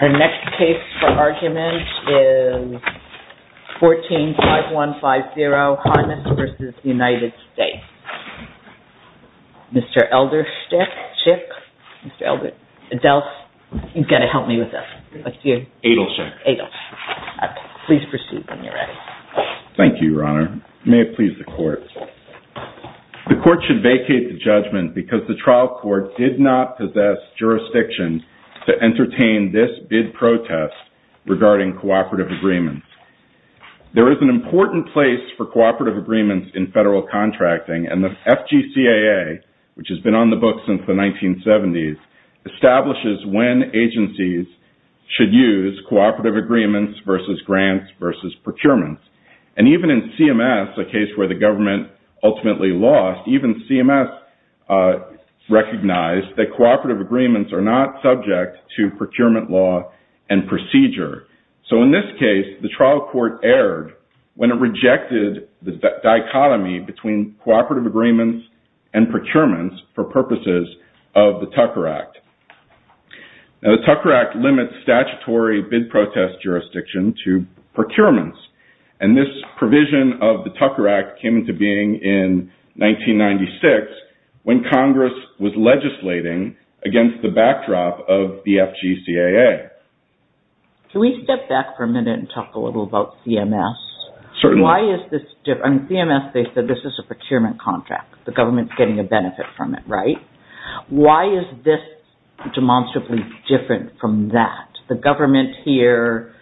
Our next case for argument is 14-5150, Harman v. United States. Mr. Elderstick? Chick? Mr. Elder? Adelph? He's going to help me with this. What's your name? Adelchick. Adelchick. Please proceed when you're ready. Thank you, Your Honor. May it please the Court. The Court should vacate the judgment because the trial court did not possess jurisdiction to entertain this bid protest regarding cooperative agreements. There is an important place for cooperative agreements in federal contracting, and the FGCAA, which has been on the books since the 1970s, establishes when agencies should use cooperative agreements versus grants versus procurements. And even in CMS, a case where the government ultimately lost, even CMS recognized that cooperative agreements are not subject to procurement law and procedure. So in this case, the trial court erred when it rejected the dichotomy between cooperative agreements and procurements for purposes of the Tucker Act. Now, the Tucker Act limits statutory bid protest jurisdiction to procurements, and this provision of the Tucker Act came into being in 1996 when Congress was legislating against the backdrop of the FGCAA. Can we step back for a minute and talk a little about CMS? Certainly. Why is this different? In CMS, they said this is a procurement contract. The government's getting a benefit from it, right? Why is this demonstrably different from that? The government here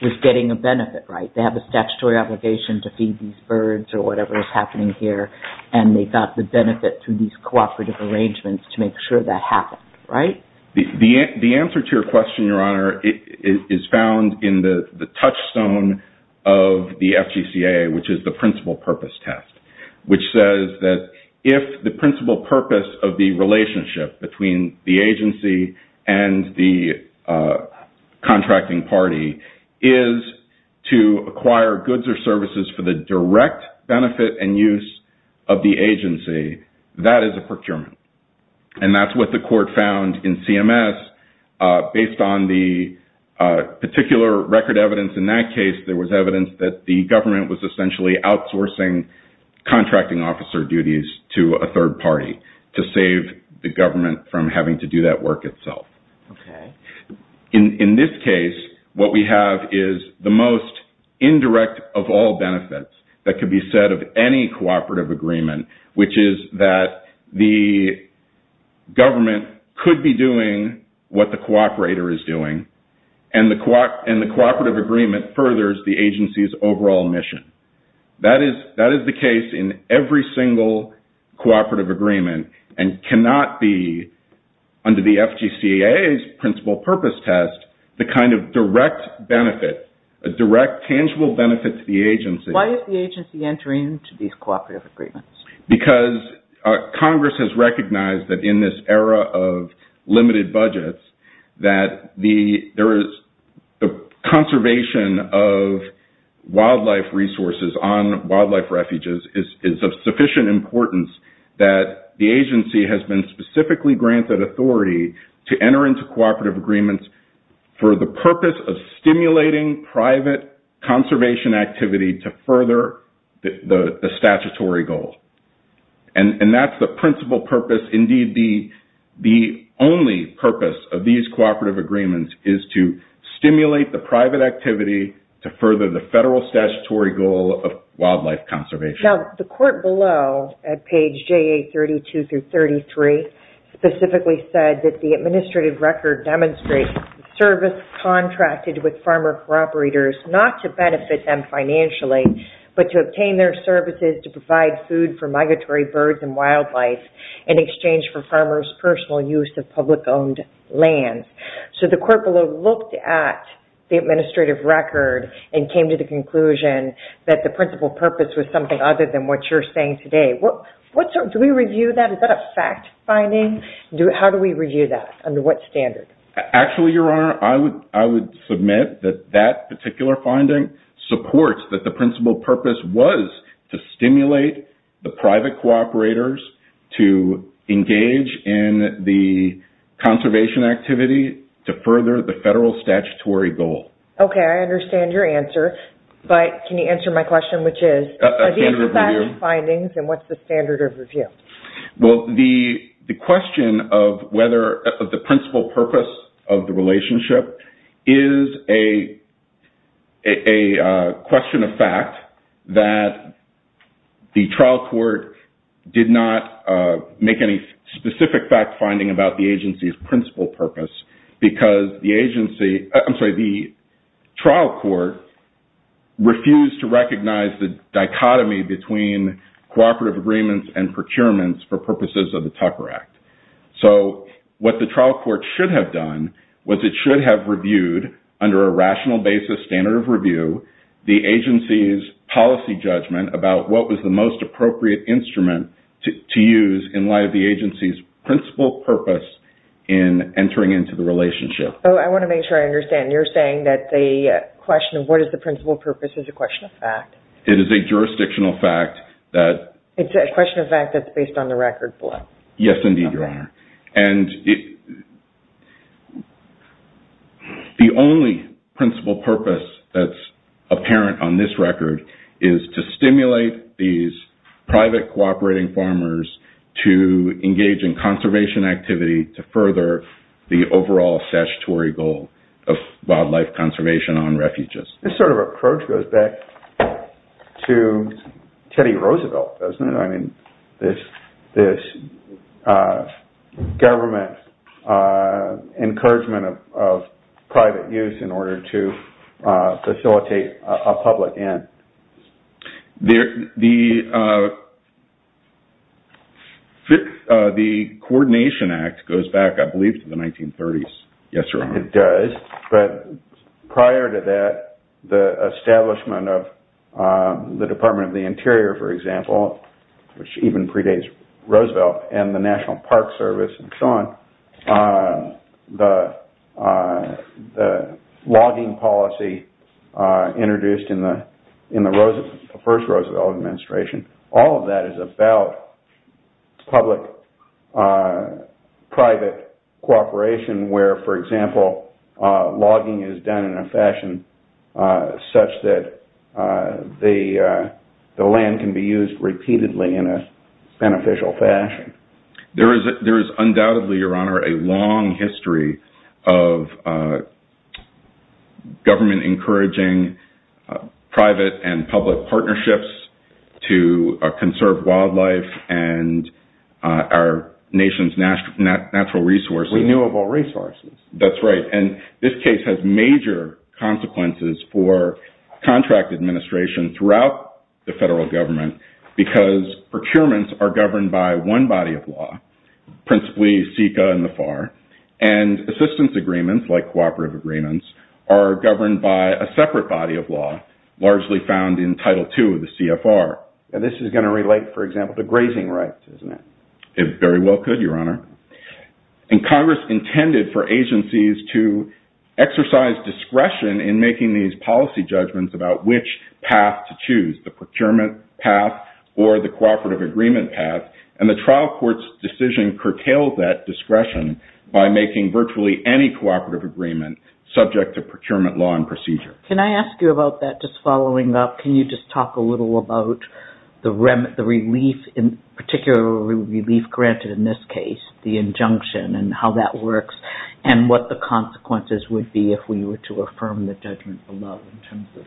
was getting a benefit, right? They have a statutory obligation to feed these birds or whatever is happening here, and they got the benefit through these cooperative arrangements to make sure that happened, right? The answer to your question, Your Honor, is found in the touchstone of the FGCAA, which is the principal purpose test, which says that if the principal purpose of the relationship between the agency and the contracting party is to acquire goods or services for the direct benefit and use of the agency, that is a procurement. And that's what the court found in CMS. Based on the particular record evidence in that case, there was evidence that the government was essentially outsourcing contracting officer duties to a third party to save the government from having to do that work itself. Okay. In this case, what we have is the most indirect of all benefits that could be said of any cooperative agreement, which is that the government could be doing what the cooperator is doing, and the cooperative agreement furthers the agency's overall mission. That is the case in every single cooperative agreement and cannot be under the FGCAA's principal purpose test the kind of direct benefit, a direct tangible benefit to the agency. Why is the agency entering into these cooperative agreements? Because Congress has recognized that in this era of limited budgets, that the conservation of wildlife resources on wildlife refuges is of sufficient importance that the agency has been specifically granted authority to enter into cooperative agreements for the purpose of stimulating private conservation activity to further the statutory goal. That's the principal purpose. Indeed, the only purpose of these cooperative agreements is to stimulate the private activity to further the federal statutory goal of wildlife conservation. Now, the court below at page JA32-33 specifically said that the administrative record demonstrates service contracted with farmer cooperators not to benefit them financially, but to obtain their services to provide food for migratory birds and wildlife in exchange for farmers' personal use of public-owned land. The court below looked at the administrative record and came to the conclusion that the principal purpose was something other than what you're saying today. Do we review that? Is that a fact finding? How do we review that? Under what standard? Actually, Your Honor, I would submit that that particular finding supports that the principal purpose was to stimulate the private cooperators to engage in the conservation activity to further the federal statutory goal. Okay, I understand your answer, but can you answer my question, which is, are these the fact findings and what's the standard of review? Well, the question of the principal purpose of the relationship is a question of fact that the trial court did not make any specific fact finding about the agency's principal purpose because the trial court refused to recognize the dichotomy between cooperative agreements and procurements for purposes of the Tucker Act. So what the trial court should have done was it should have reviewed, under a rational basis standard of review, the agency's policy judgment about what was the most appropriate instrument to use in light of the agency's principal purpose in entering into the relationship. I want to make sure I understand. You're saying that the question of what is the principal purpose is a question of fact. It is a jurisdictional fact that It's a question of fact that's based on the record below. Yes, indeed, Your Honor. And the only principal purpose that's apparent on this record is to stimulate these private cooperating farmers to engage in conservation activity to further the overall statutory goal of wildlife conservation on refuges. This sort of approach goes back to Teddy Roosevelt, doesn't it? I mean, this government encouragement of private use in order to facilitate a public end. The Coordination Act goes back, I believe, to the 1930s. Yes, Your Honor. I think it does. But prior to that, the establishment of the Department of the Interior, for example, which even predates Roosevelt, and the National Park Service and so on, the logging policy introduced in the first Roosevelt administration, all of that is about public-private cooperation where, for example, logging is done in a fashion such that the land can be used repeatedly in a beneficial fashion. There is undoubtedly, Your Honor, a long history of government encouraging private and public partnerships to conserve wildlife and our nation's natural resources. Renewable resources. That's right. And this case has major consequences for contract administration throughout the federal government because procurements are governed by one body of law, principally SECA and the FAR, and assistance agreements, like cooperative agreements, are governed by a separate body of law, largely found in Title II of the CFR. And this is going to relate, for example, to grazing rights, isn't it? It very well could, Your Honor. And Congress intended for agencies to exercise discretion in making these policy judgments about which path to choose, the procurement path or the cooperative agreement path, and the trial court's decision curtailed that discretion by making virtually any cooperative agreement subject to procurement law and procedure. Can I ask you about that, just following up? Can you just talk a little about the relief, particularly relief granted in this case, the injunction and how that works and what the consequences would be if we were to affirm the judgment below in terms of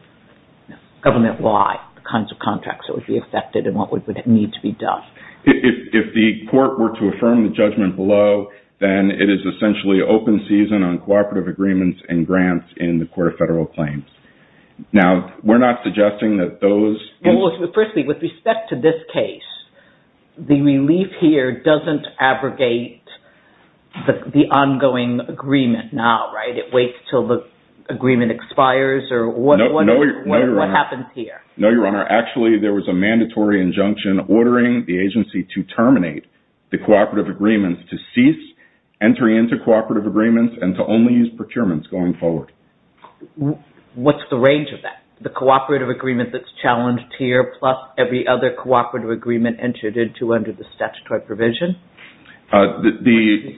government-wide, the kinds of contracts that would be affected and what would need to be done? If the court were to affirm the judgment below, then it is essentially open season on cooperative agreements and grants in the Court of Federal Claims. Now, we're not suggesting that those... Well, firstly, with respect to this case, the relief here doesn't abrogate the ongoing agreement now, right? It waits until the agreement expires or what happens here? No, Your Honor. Actually, there was a mandatory injunction ordering the agency to terminate the cooperative agreements, to cease entering into cooperative agreements and to only use procurements going forward. What's the range of that? The cooperative agreement that's challenged here plus every other cooperative agreement entered into under the statutory provision? The... What's the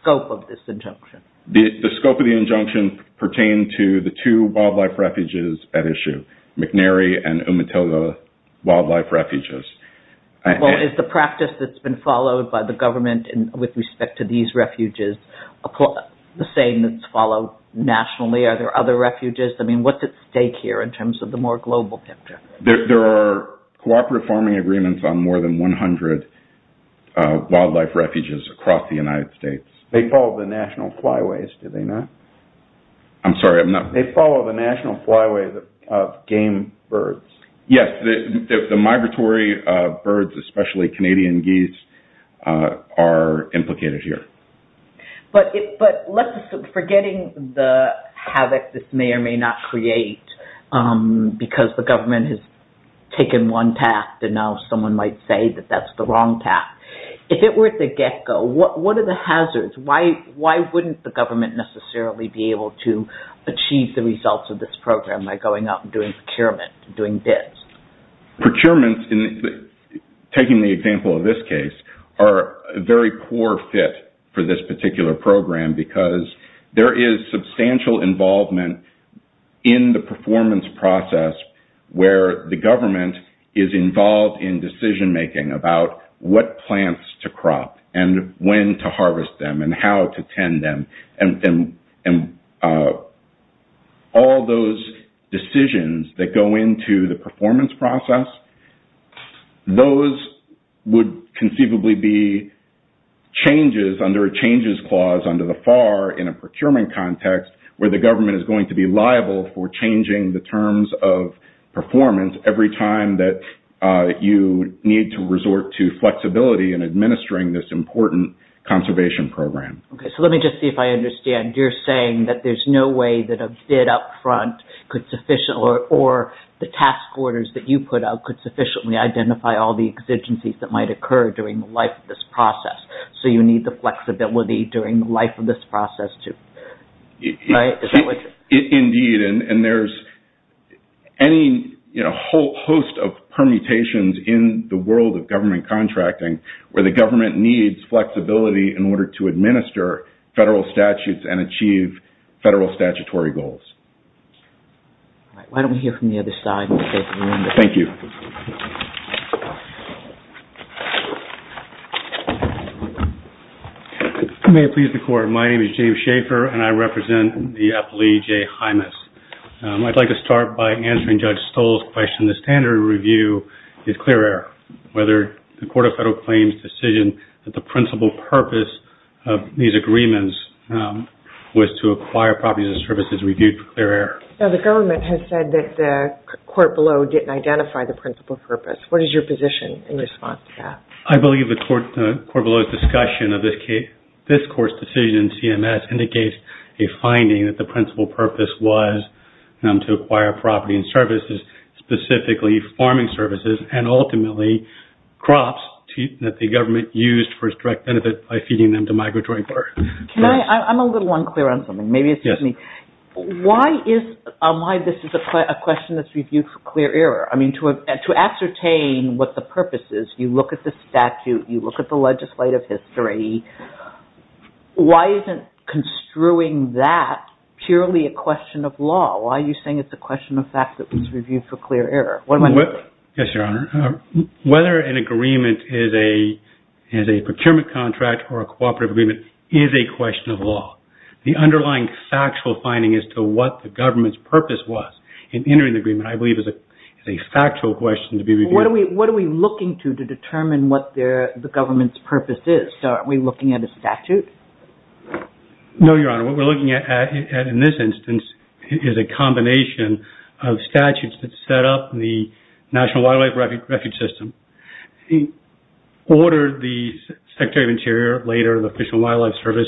scope of this injunction? The scope of the injunction pertained to the two wildlife refuges at issue, McNary and Umatilla wildlife refuges. Well, is the practice that's been followed by the government with respect to these refuges the same that's followed nationally? Are there other refuges? I mean, what's at stake here in terms of the more global picture? There are cooperative farming agreements on more than 100 wildlife refuges across the United States. They follow the national flyways, do they not? I'm sorry, I'm not... They follow the national flyways of game birds. Yes, the migratory birds, especially Canadian geese, are implicated here. But let's assume, forgetting the havoc this may or may not create because the government has taken one path and now someone might say that that's the wrong path, if it were the get-go, what are the hazards? Why wouldn't the government necessarily be able to achieve the results of this program by going out and doing procurement, doing bids? Procurements, taking the example of this case, are a very poor fit for this particular program because there is substantial involvement in the performance process where the government is involved in decision-making about what plants to crop and when to harvest them and how to tend them. And all those decisions that go into the performance process, those would conceivably be changes under a changes clause under the FAR in a procurement context where the government is going to be liable for changing the terms of performance every time that you need to resort to flexibility in administering this important conservation program. Okay, so let me just see if I understand. You're saying that there's no way that a bid up front could sufficiently... or the task orders that you put out could sufficiently identify all the exigencies that might occur during the life of this process. So you need the flexibility during the life of this process to... Indeed, and there's any host of permutations in the world of government contracting where the government needs flexibility in order to administer federal statutes and achieve federal statutory goals. All right, why don't we hear from the other side. Thank you. Thank you. May it please the court. My name is James Schaefer and I represent the appellee, Jay Hymas. I'd like to start by answering Judge Stoll's question. The standard review is clear error. Whether the Court of Federal Claims' decision that the principal purpose of these agreements was to acquire properties and services reviewed for clear error. The government has said that the court below didn't identify the principal purpose. What is your position in response to that? I believe the court below's discussion of this court's decision, CMS, indicates a finding that the principal purpose was to acquire property and services, specifically farming services, and ultimately crops that the government used for its direct benefit by feeding them to migratory birds. I'm a little unclear on something. Maybe excuse me. Why is this a question that's reviewed for clear error? I mean, to ascertain what the purpose is, you look at the statute, you look at the legislative history. Why isn't construing that purely a question of law? Why are you saying it's a question of fact that was reviewed for clear error? Yes, Your Honor. Whether an agreement is a procurement contract or a cooperative agreement is a question of law. The underlying factual finding as to what the government's purpose was in entering the agreement, I believe, is a factual question to be reviewed. What are we looking to to determine what the government's purpose is? Are we looking at a statute? No, Your Honor. What we're looking at in this instance is a combination of statutes that set up the National Wildlife Refuge System. He ordered the Secretary of Interior, later the Fish and Wildlife Service,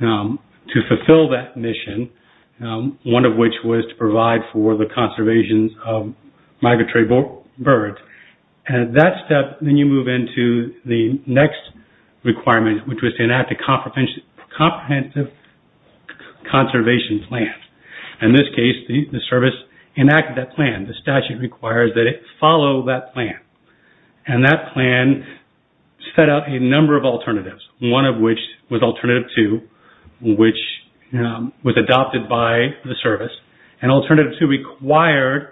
to fulfill that mission, one of which was to provide for the conservation of migratory birds. At that step, then you move into the next requirement, which was to enact a comprehensive conservation plan. In this case, the service enacted that plan. The statute requires that it follow that plan. That plan set up a number of alternatives, one of which was Alternative 2, which was adopted by the service. Alternative 2 required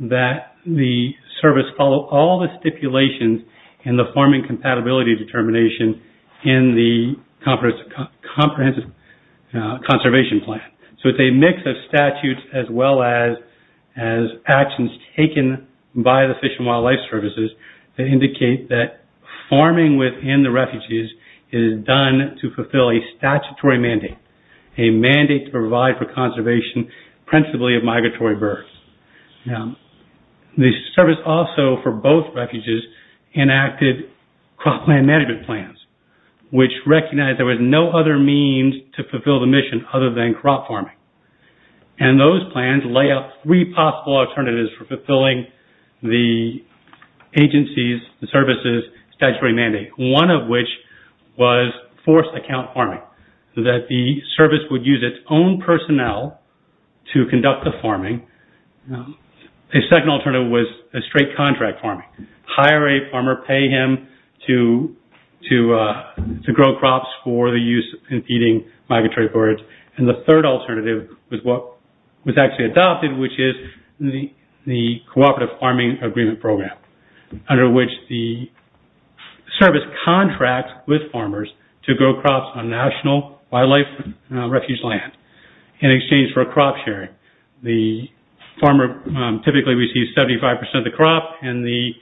that the service follow all the stipulations in the forming compatibility determination in the comprehensive conservation plan. It's a mix of statutes as well as actions taken by the Fish and Wildlife Services that indicate that farming within the refuges is done to fulfill a statutory mandate, a mandate to provide for conservation principally of migratory birds. The service also, for both refuges, enacted cropland management plans, which recognized there was no other means to fulfill the mission other than crop farming. Those plans lay out three possible alternatives for fulfilling the agency's, the service's statutory mandate, one of which was forced account farming, that the service would use its own personnel to conduct the farming. A second alternative was a straight contract farming. Hire a farmer, pay him to grow crops for the use in feeding migratory birds. And the third alternative was what was actually adopted, which is the Cooperative Farming Agreement Program, under which the service contracts with farmers to grow crops on national wildlife refuge land in exchange for a crop sharing. The farmer typically receives 75% of the crop and the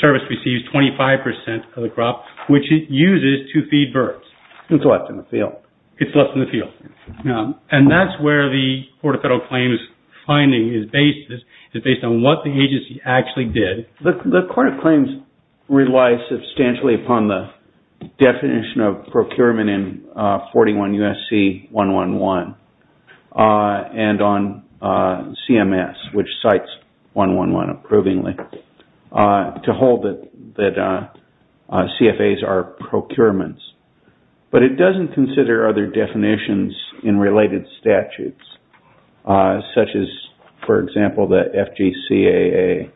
service receives 25% of the crop, which it uses to feed birds. It's left in the field. It's left in the field. And that's where the Court of Federal Claims finding is based, is based on what the agency actually did. The Court of Claims relies substantially upon the definition of procurement in 41 U.S.C. 111 and on CMS, which cites 111 approvingly, to hold that CFAs are procurements. But it doesn't consider other definitions in related statutes, such as, for example, the FGCAA.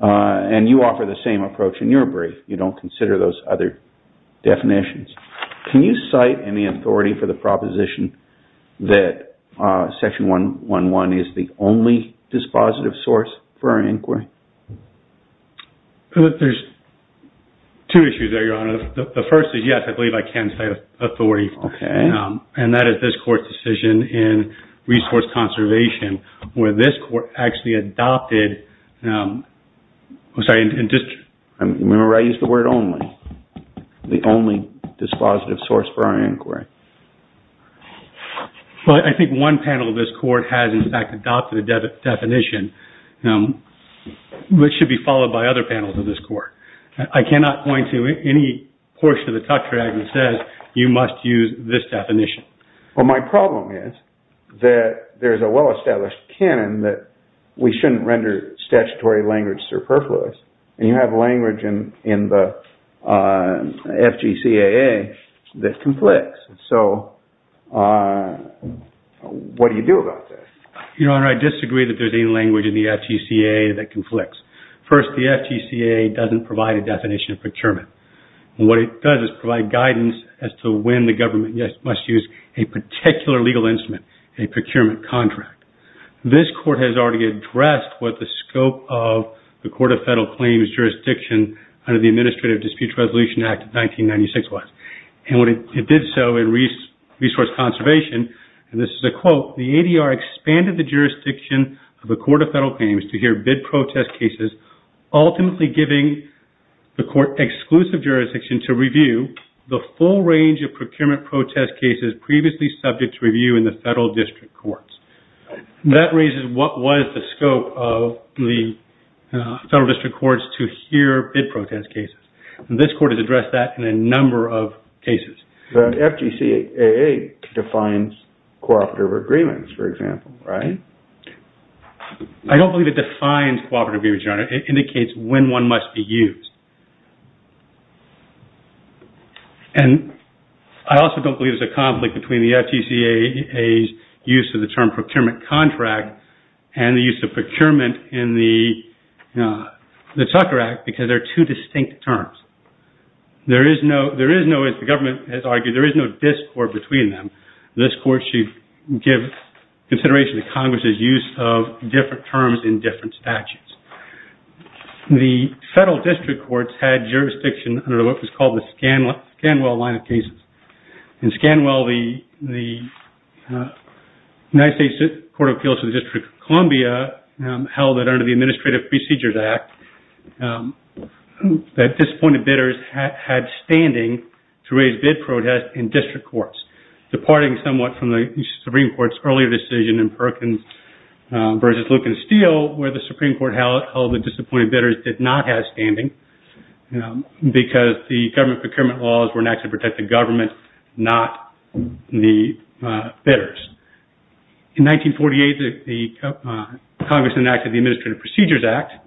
And you offer the same approach in your brief. You don't consider those other definitions. Can you cite any authority for the proposition that Section 111 is the only dispositive source for an inquiry? There's two issues there, Your Honor. The first is, yes, I believe I can cite authority. Okay. And that is this Court's decision in resource conservation, where this Court actually adopted... I'm sorry. Remember, I used the word only. The only dispositive source for our inquiry. Well, I think one panel of this Court has, in fact, adopted a definition, which should be followed by other panels of this Court. I cannot point to any portion of the touchpad that says, you must use this definition. Well, my problem is that there's a well-established canon that we shouldn't render statutory language superfluous. And you have language in the FGCAA that conflicts. So, what do you do about this? Your Honor, I disagree that there's any language in the FGCAA that conflicts. First, the FGCAA doesn't provide a definition of procurement. What it does is provide guidance as to when the government must use a particular legal instrument, a procurement contract. This Court has already addressed what the scope of the Court of Federal Claims jurisdiction under the Administrative Dispute Resolution Act of 1996 was. And what it did so in resource conservation, and this is a quote, the ADR expanded the jurisdiction of the Court of Federal Claims to hear bid protest cases, ultimately giving the Court exclusive jurisdiction to review the full range of procurement protest cases previously subject to review in the Federal District Courts. That raises what was the scope of the Federal District Courts to hear bid protest cases. And this Court has addressed that in a number of cases. The FGCAA defines cooperative agreements, for example, right? I don't believe it defines cooperative agreements, Your Honor. It indicates when one must be used. And I also don't believe there's a conflict between the FGCAA's use of the term procurement contract and the use of procurement in the Tucker Act because they're two distinct terms. There is no, as the government has argued, there is no discord between them. This Court should give consideration to Congress's use of different terms in different statutes. The Federal District Courts had jurisdiction under what was called the Scanwell line of cases. In Scanwell, the United States Court of Appeals to the District of Columbia held that under the Administrative Procedures Act that disappointed bidders had standing to raise bid protest in District Courts, departing somewhat from the Supreme Court's earlier decision in Perkins v. Luke and Steele where the Supreme Court held that disappointed bidders did not have standing because the government procurement laws were an act to protect the government, not the bidders. In 1948, the Congress enacted the Administrative Procedures Act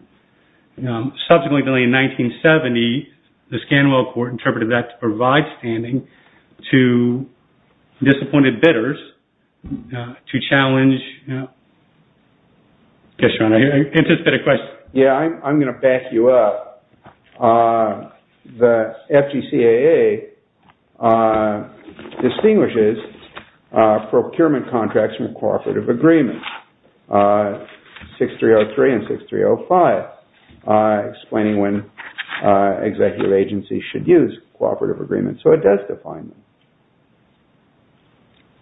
and subsequently in 1970, the Scanwell Court interpreted that to provide standing to disappointed bidders to challenge... Yes, John, I anticipated a question. Yeah, I'm going to back you up. The FGCAA distinguishes procurement contracts from cooperative agreements, 6303 and 6305. Explaining when executive agencies should use cooperative agreements, so it does define them.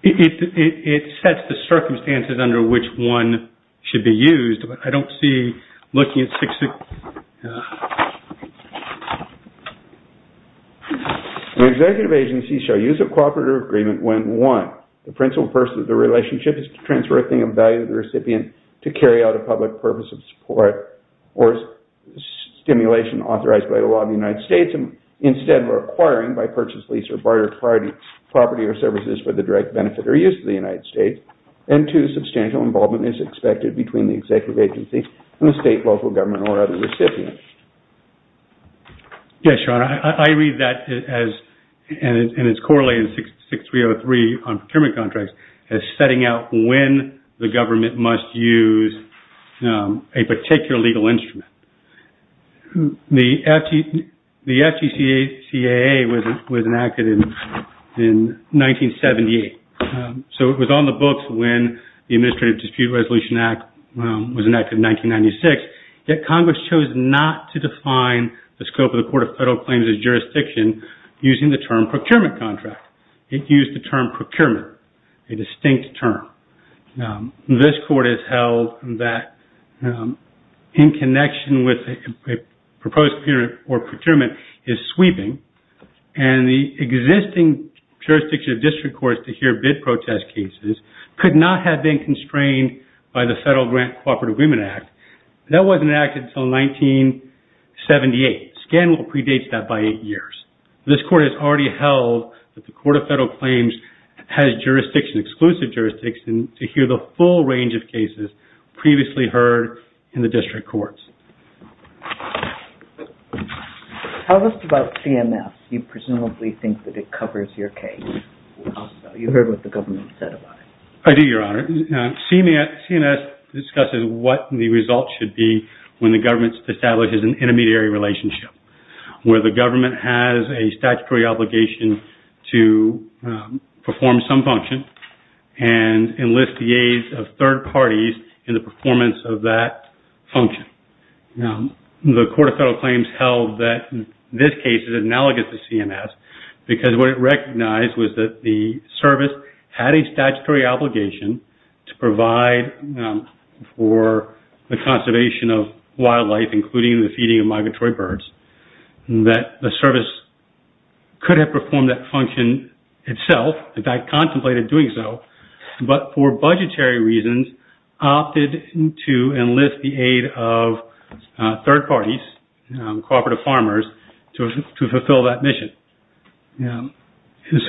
It sets the circumstances under which one should be used, but I don't see looking at 6303. The executive agency shall use a cooperative agreement when one, the principal purpose of the relationship is to transfer a thing of value to the recipient to carry out a public purpose of support or stimulation authorized by the law of the United States and instead requiring by purchase, lease, or barter property or services for the direct benefit or use of the United States, and two, substantial involvement is expected between the executive agency and the state, local government, or other recipient. Yes, John, I read that as... and it's correlated to 6303 on procurement contracts as setting out when the government must use a particular legal instrument. The FGCAA was enacted in 1978, so it was on the books when the Administrative Dispute Resolution Act was enacted in 1996, yet Congress chose not to define the scope of the Court of Federal Claims of Jurisdiction using the term procurement contract. It used the term procurement, a distinct term. This court has held that in connection with a proposed procurement or procurement is sweeping, and the existing jurisdiction of district courts to hear bid protest cases could not have been constrained by the Federal Grant Cooperative Agreement Act. That wasn't enacted until 1978. Scanlon predates that by eight years. This court has already held that the Court of Federal Claims has jurisdiction, exclusive jurisdiction, to hear the full range of cases previously heard in the district courts. Tell us about CMS. You presumably think that it covers your case. You heard what the government said about it. I do, Your Honor. CMS discusses what the result should be when the government establishes an intermediary relationship where the government has a statutory obligation to perform some function and enlist the aid of third parties in the performance of that function. The Court of Federal Claims held that this case is analogous to CMS because what it recognized was that the service had a statutory obligation to provide for the conservation of wildlife, including the feeding of migratory birds, that the service could have performed that function itself, if contemplated doing so, but for budgetary reasons opted to enlist the aid of third parties, cooperative farmers, to fulfill that mission.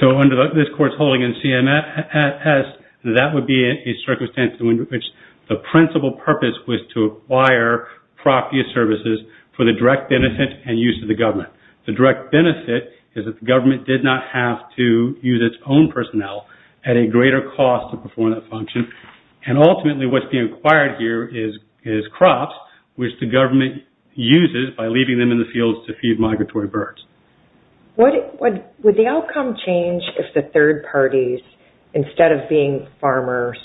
So under this court's holding in CMS, that would be a circumstance in which the principal purpose was to acquire property or services for the direct benefit and use of the government. The direct benefit is that the government did not have to use its own personnel at a greater cost to perform that function, and ultimately what's being acquired here is crops, which the government uses by leaving them in the fields to feed migratory birds. Would the outcome change if the third parties, instead of being farmers,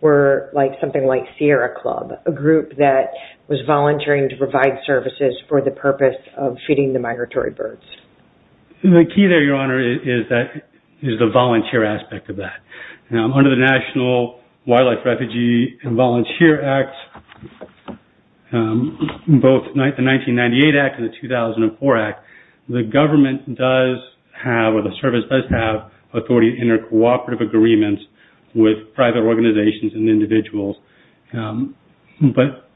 were something like Sierra Club, a group that was volunteering to provide services for the purpose of feeding the migratory birds? The key there, Your Honor, is the volunteer aspect of that. Under the National Wildlife Refugee and Volunteer Act, both the 1998 Act and the 2004 Act, the government does have, or the service does have, authority to enter cooperative agreements with private organizations and individuals, but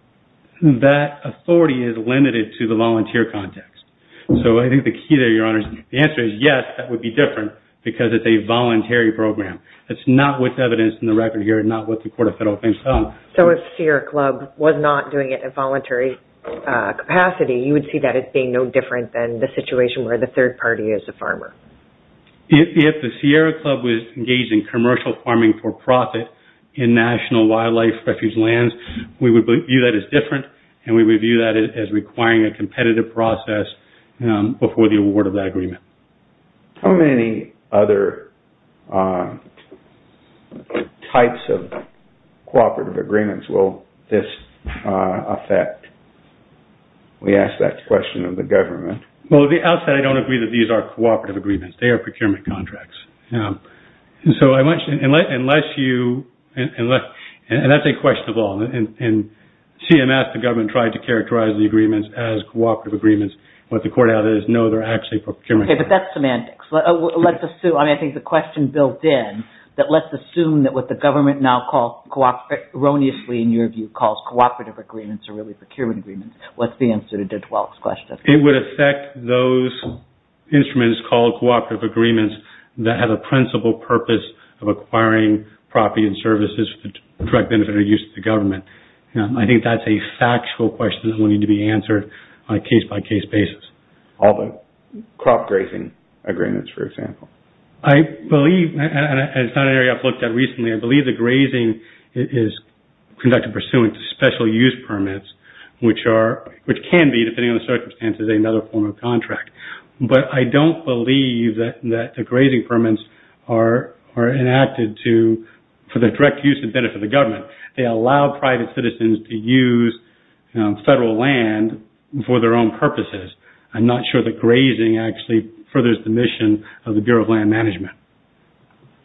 that authority is limited to the volunteer context. So I think the key there, Your Honor, the answer is yes, that would be different because it's a voluntary program. That's not what's evidenced in the record here and not what the Court of Federal Appeals found. So if Sierra Club was not doing it in a voluntary capacity, you would see that as being no different than the situation where the third party is a farmer? If the Sierra Club was engaged in commercial farming for profit in National Wildlife Refuge lands, we would view that as different and requiring a competitive process before the award of that agreement. How many other types of cooperative agreements will this affect? We ask that question of the government. Well, at the outset, I don't agree that these are cooperative agreements. They are procurement contracts. And so I mentioned, unless you, and that's a question of all, in CMS, the government tried to characterize the agreements as cooperative agreements. What the Court added is no, they're actually procurement agreements. Okay, but that's semantics. Let's assume, I think the question built in, that let's assume that what the government now erroneously, in your view, calls cooperative agreements are really procurement agreements. What's the answer to Judge Welch's question? It would affect those instruments called cooperative agreements that have a principal purpose and I think that's a factual question that will need to be answered on a case-by-case basis. All the crop grazing agreements, for example. I believe, and it's not an area I've looked at recently, I believe the grazing is conducted pursuant to special use permits, which can be, depending on the circumstances, another form of contract. But I don't believe that the grazing permits are enacted for the direct use and benefit of the government. I don't believe that the government has allowed its citizens to use federal land for their own purposes. I'm not sure that grazing actually furthers the mission of the Bureau of Land Management.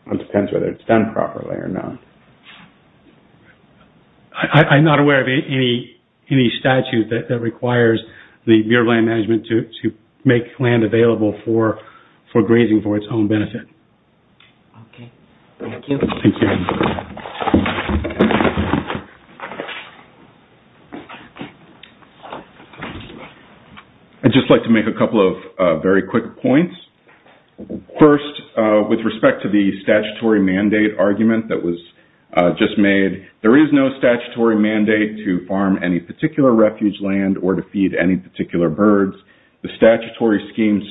It depends whether it's done properly or not. I'm not aware of any statute that requires the Bureau of Land Management to make land available for grazing for its own benefit. Okay. Thank you. I'd just like to make a couple of very quick points. First, with respect to the statutory mandate argument that was just made, there is no statutory mandate to farm any particular refuge land or to feed any particular birds. The statutory scheme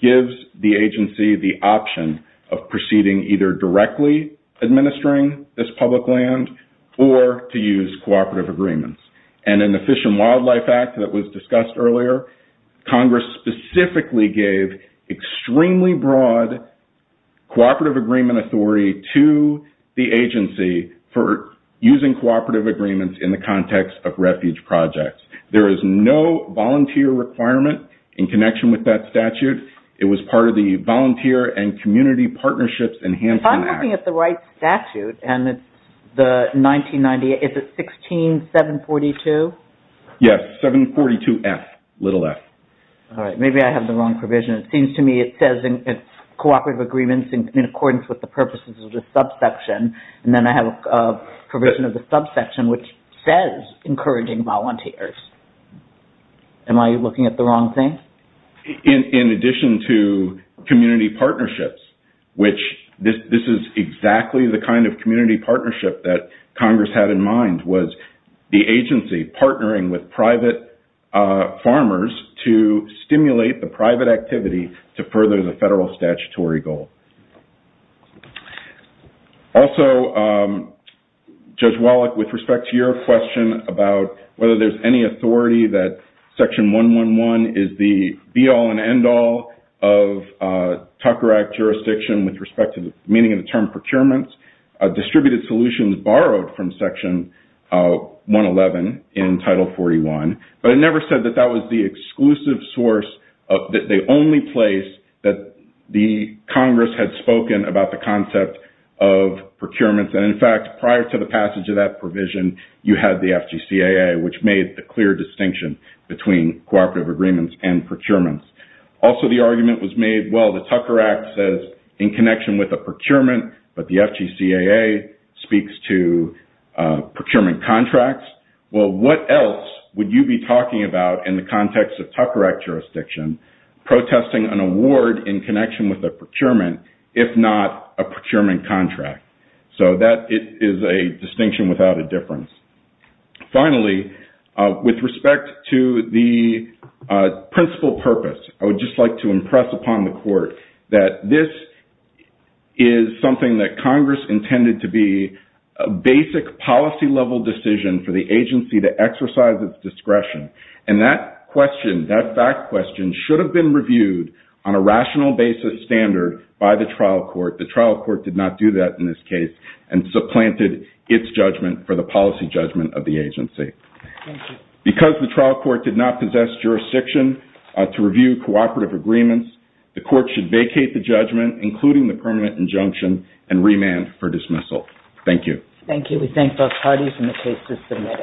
gives the agency the option of proceeding either directly administering the land this public land or to use cooperative agreements. And in the Fish and Wildlife Act that was discussed earlier, Congress specifically gave extremely broad cooperative agreement authority to the agency for using cooperative agreements in the context of refuge projects. There is no volunteer requirement in connection with that statute. It was part of the Volunteer and Community Partnerships Enhancement Act. If I'm looking at the right statute and it's the 1998, is it 16742? Yes, 742F, little f. All right. Maybe I have the wrong provision. It seems to me it says it's cooperative agreements in accordance with the purposes of the subsection. And then I have a provision of the subsection which says encouraging volunteers. Am I looking at the wrong thing? In addition to this is exactly the kind of community partnership that Congress had in mind was the agency partnering with private farmers to stimulate the private activity to further the federal statutory goal. Also, Judge Wallach, with respect to your question about whether there's any authority that Section 111 is the be-all and end-all of Tucker Act jurisdiction with respect to the meaning of the term procurements, distributed solutions borrowed from Section 111 in Title 41. But it never said that that was the exclusive source of the only place that the Congress had spoken about the concept of procurements. And, in fact, prior to the passage of that provision, you had the FGCAA which made the clear distinction between cooperative agreements and procurements. Also, the argument was made, well, the Tucker Act says in connection with a procurement, but the FGCAA speaks to procurement contracts. Well, what else would you be talking about in the context of Tucker Act jurisdiction protesting an award in connection with a procurement if not a procurement contract? So that is a distinction without a difference. Finally, with respect to the principal purpose, I would just like to impress upon the Court that this is something that Congress intended to be a basic policy-level decision for the agency to exercise its discretion. And that question, that fact question, should have been reviewed on a rational basis standard by the trial court. The trial court did not do that in this case and supplanted its judgment for the policy judgment of the agency. Because the trial court did not possess jurisdiction to review cooperative agreements, the Court should vacate the judgment including the permanent injunction and remand for dismissal. Thank you. Thank you. We thank both parties and the case is submitted.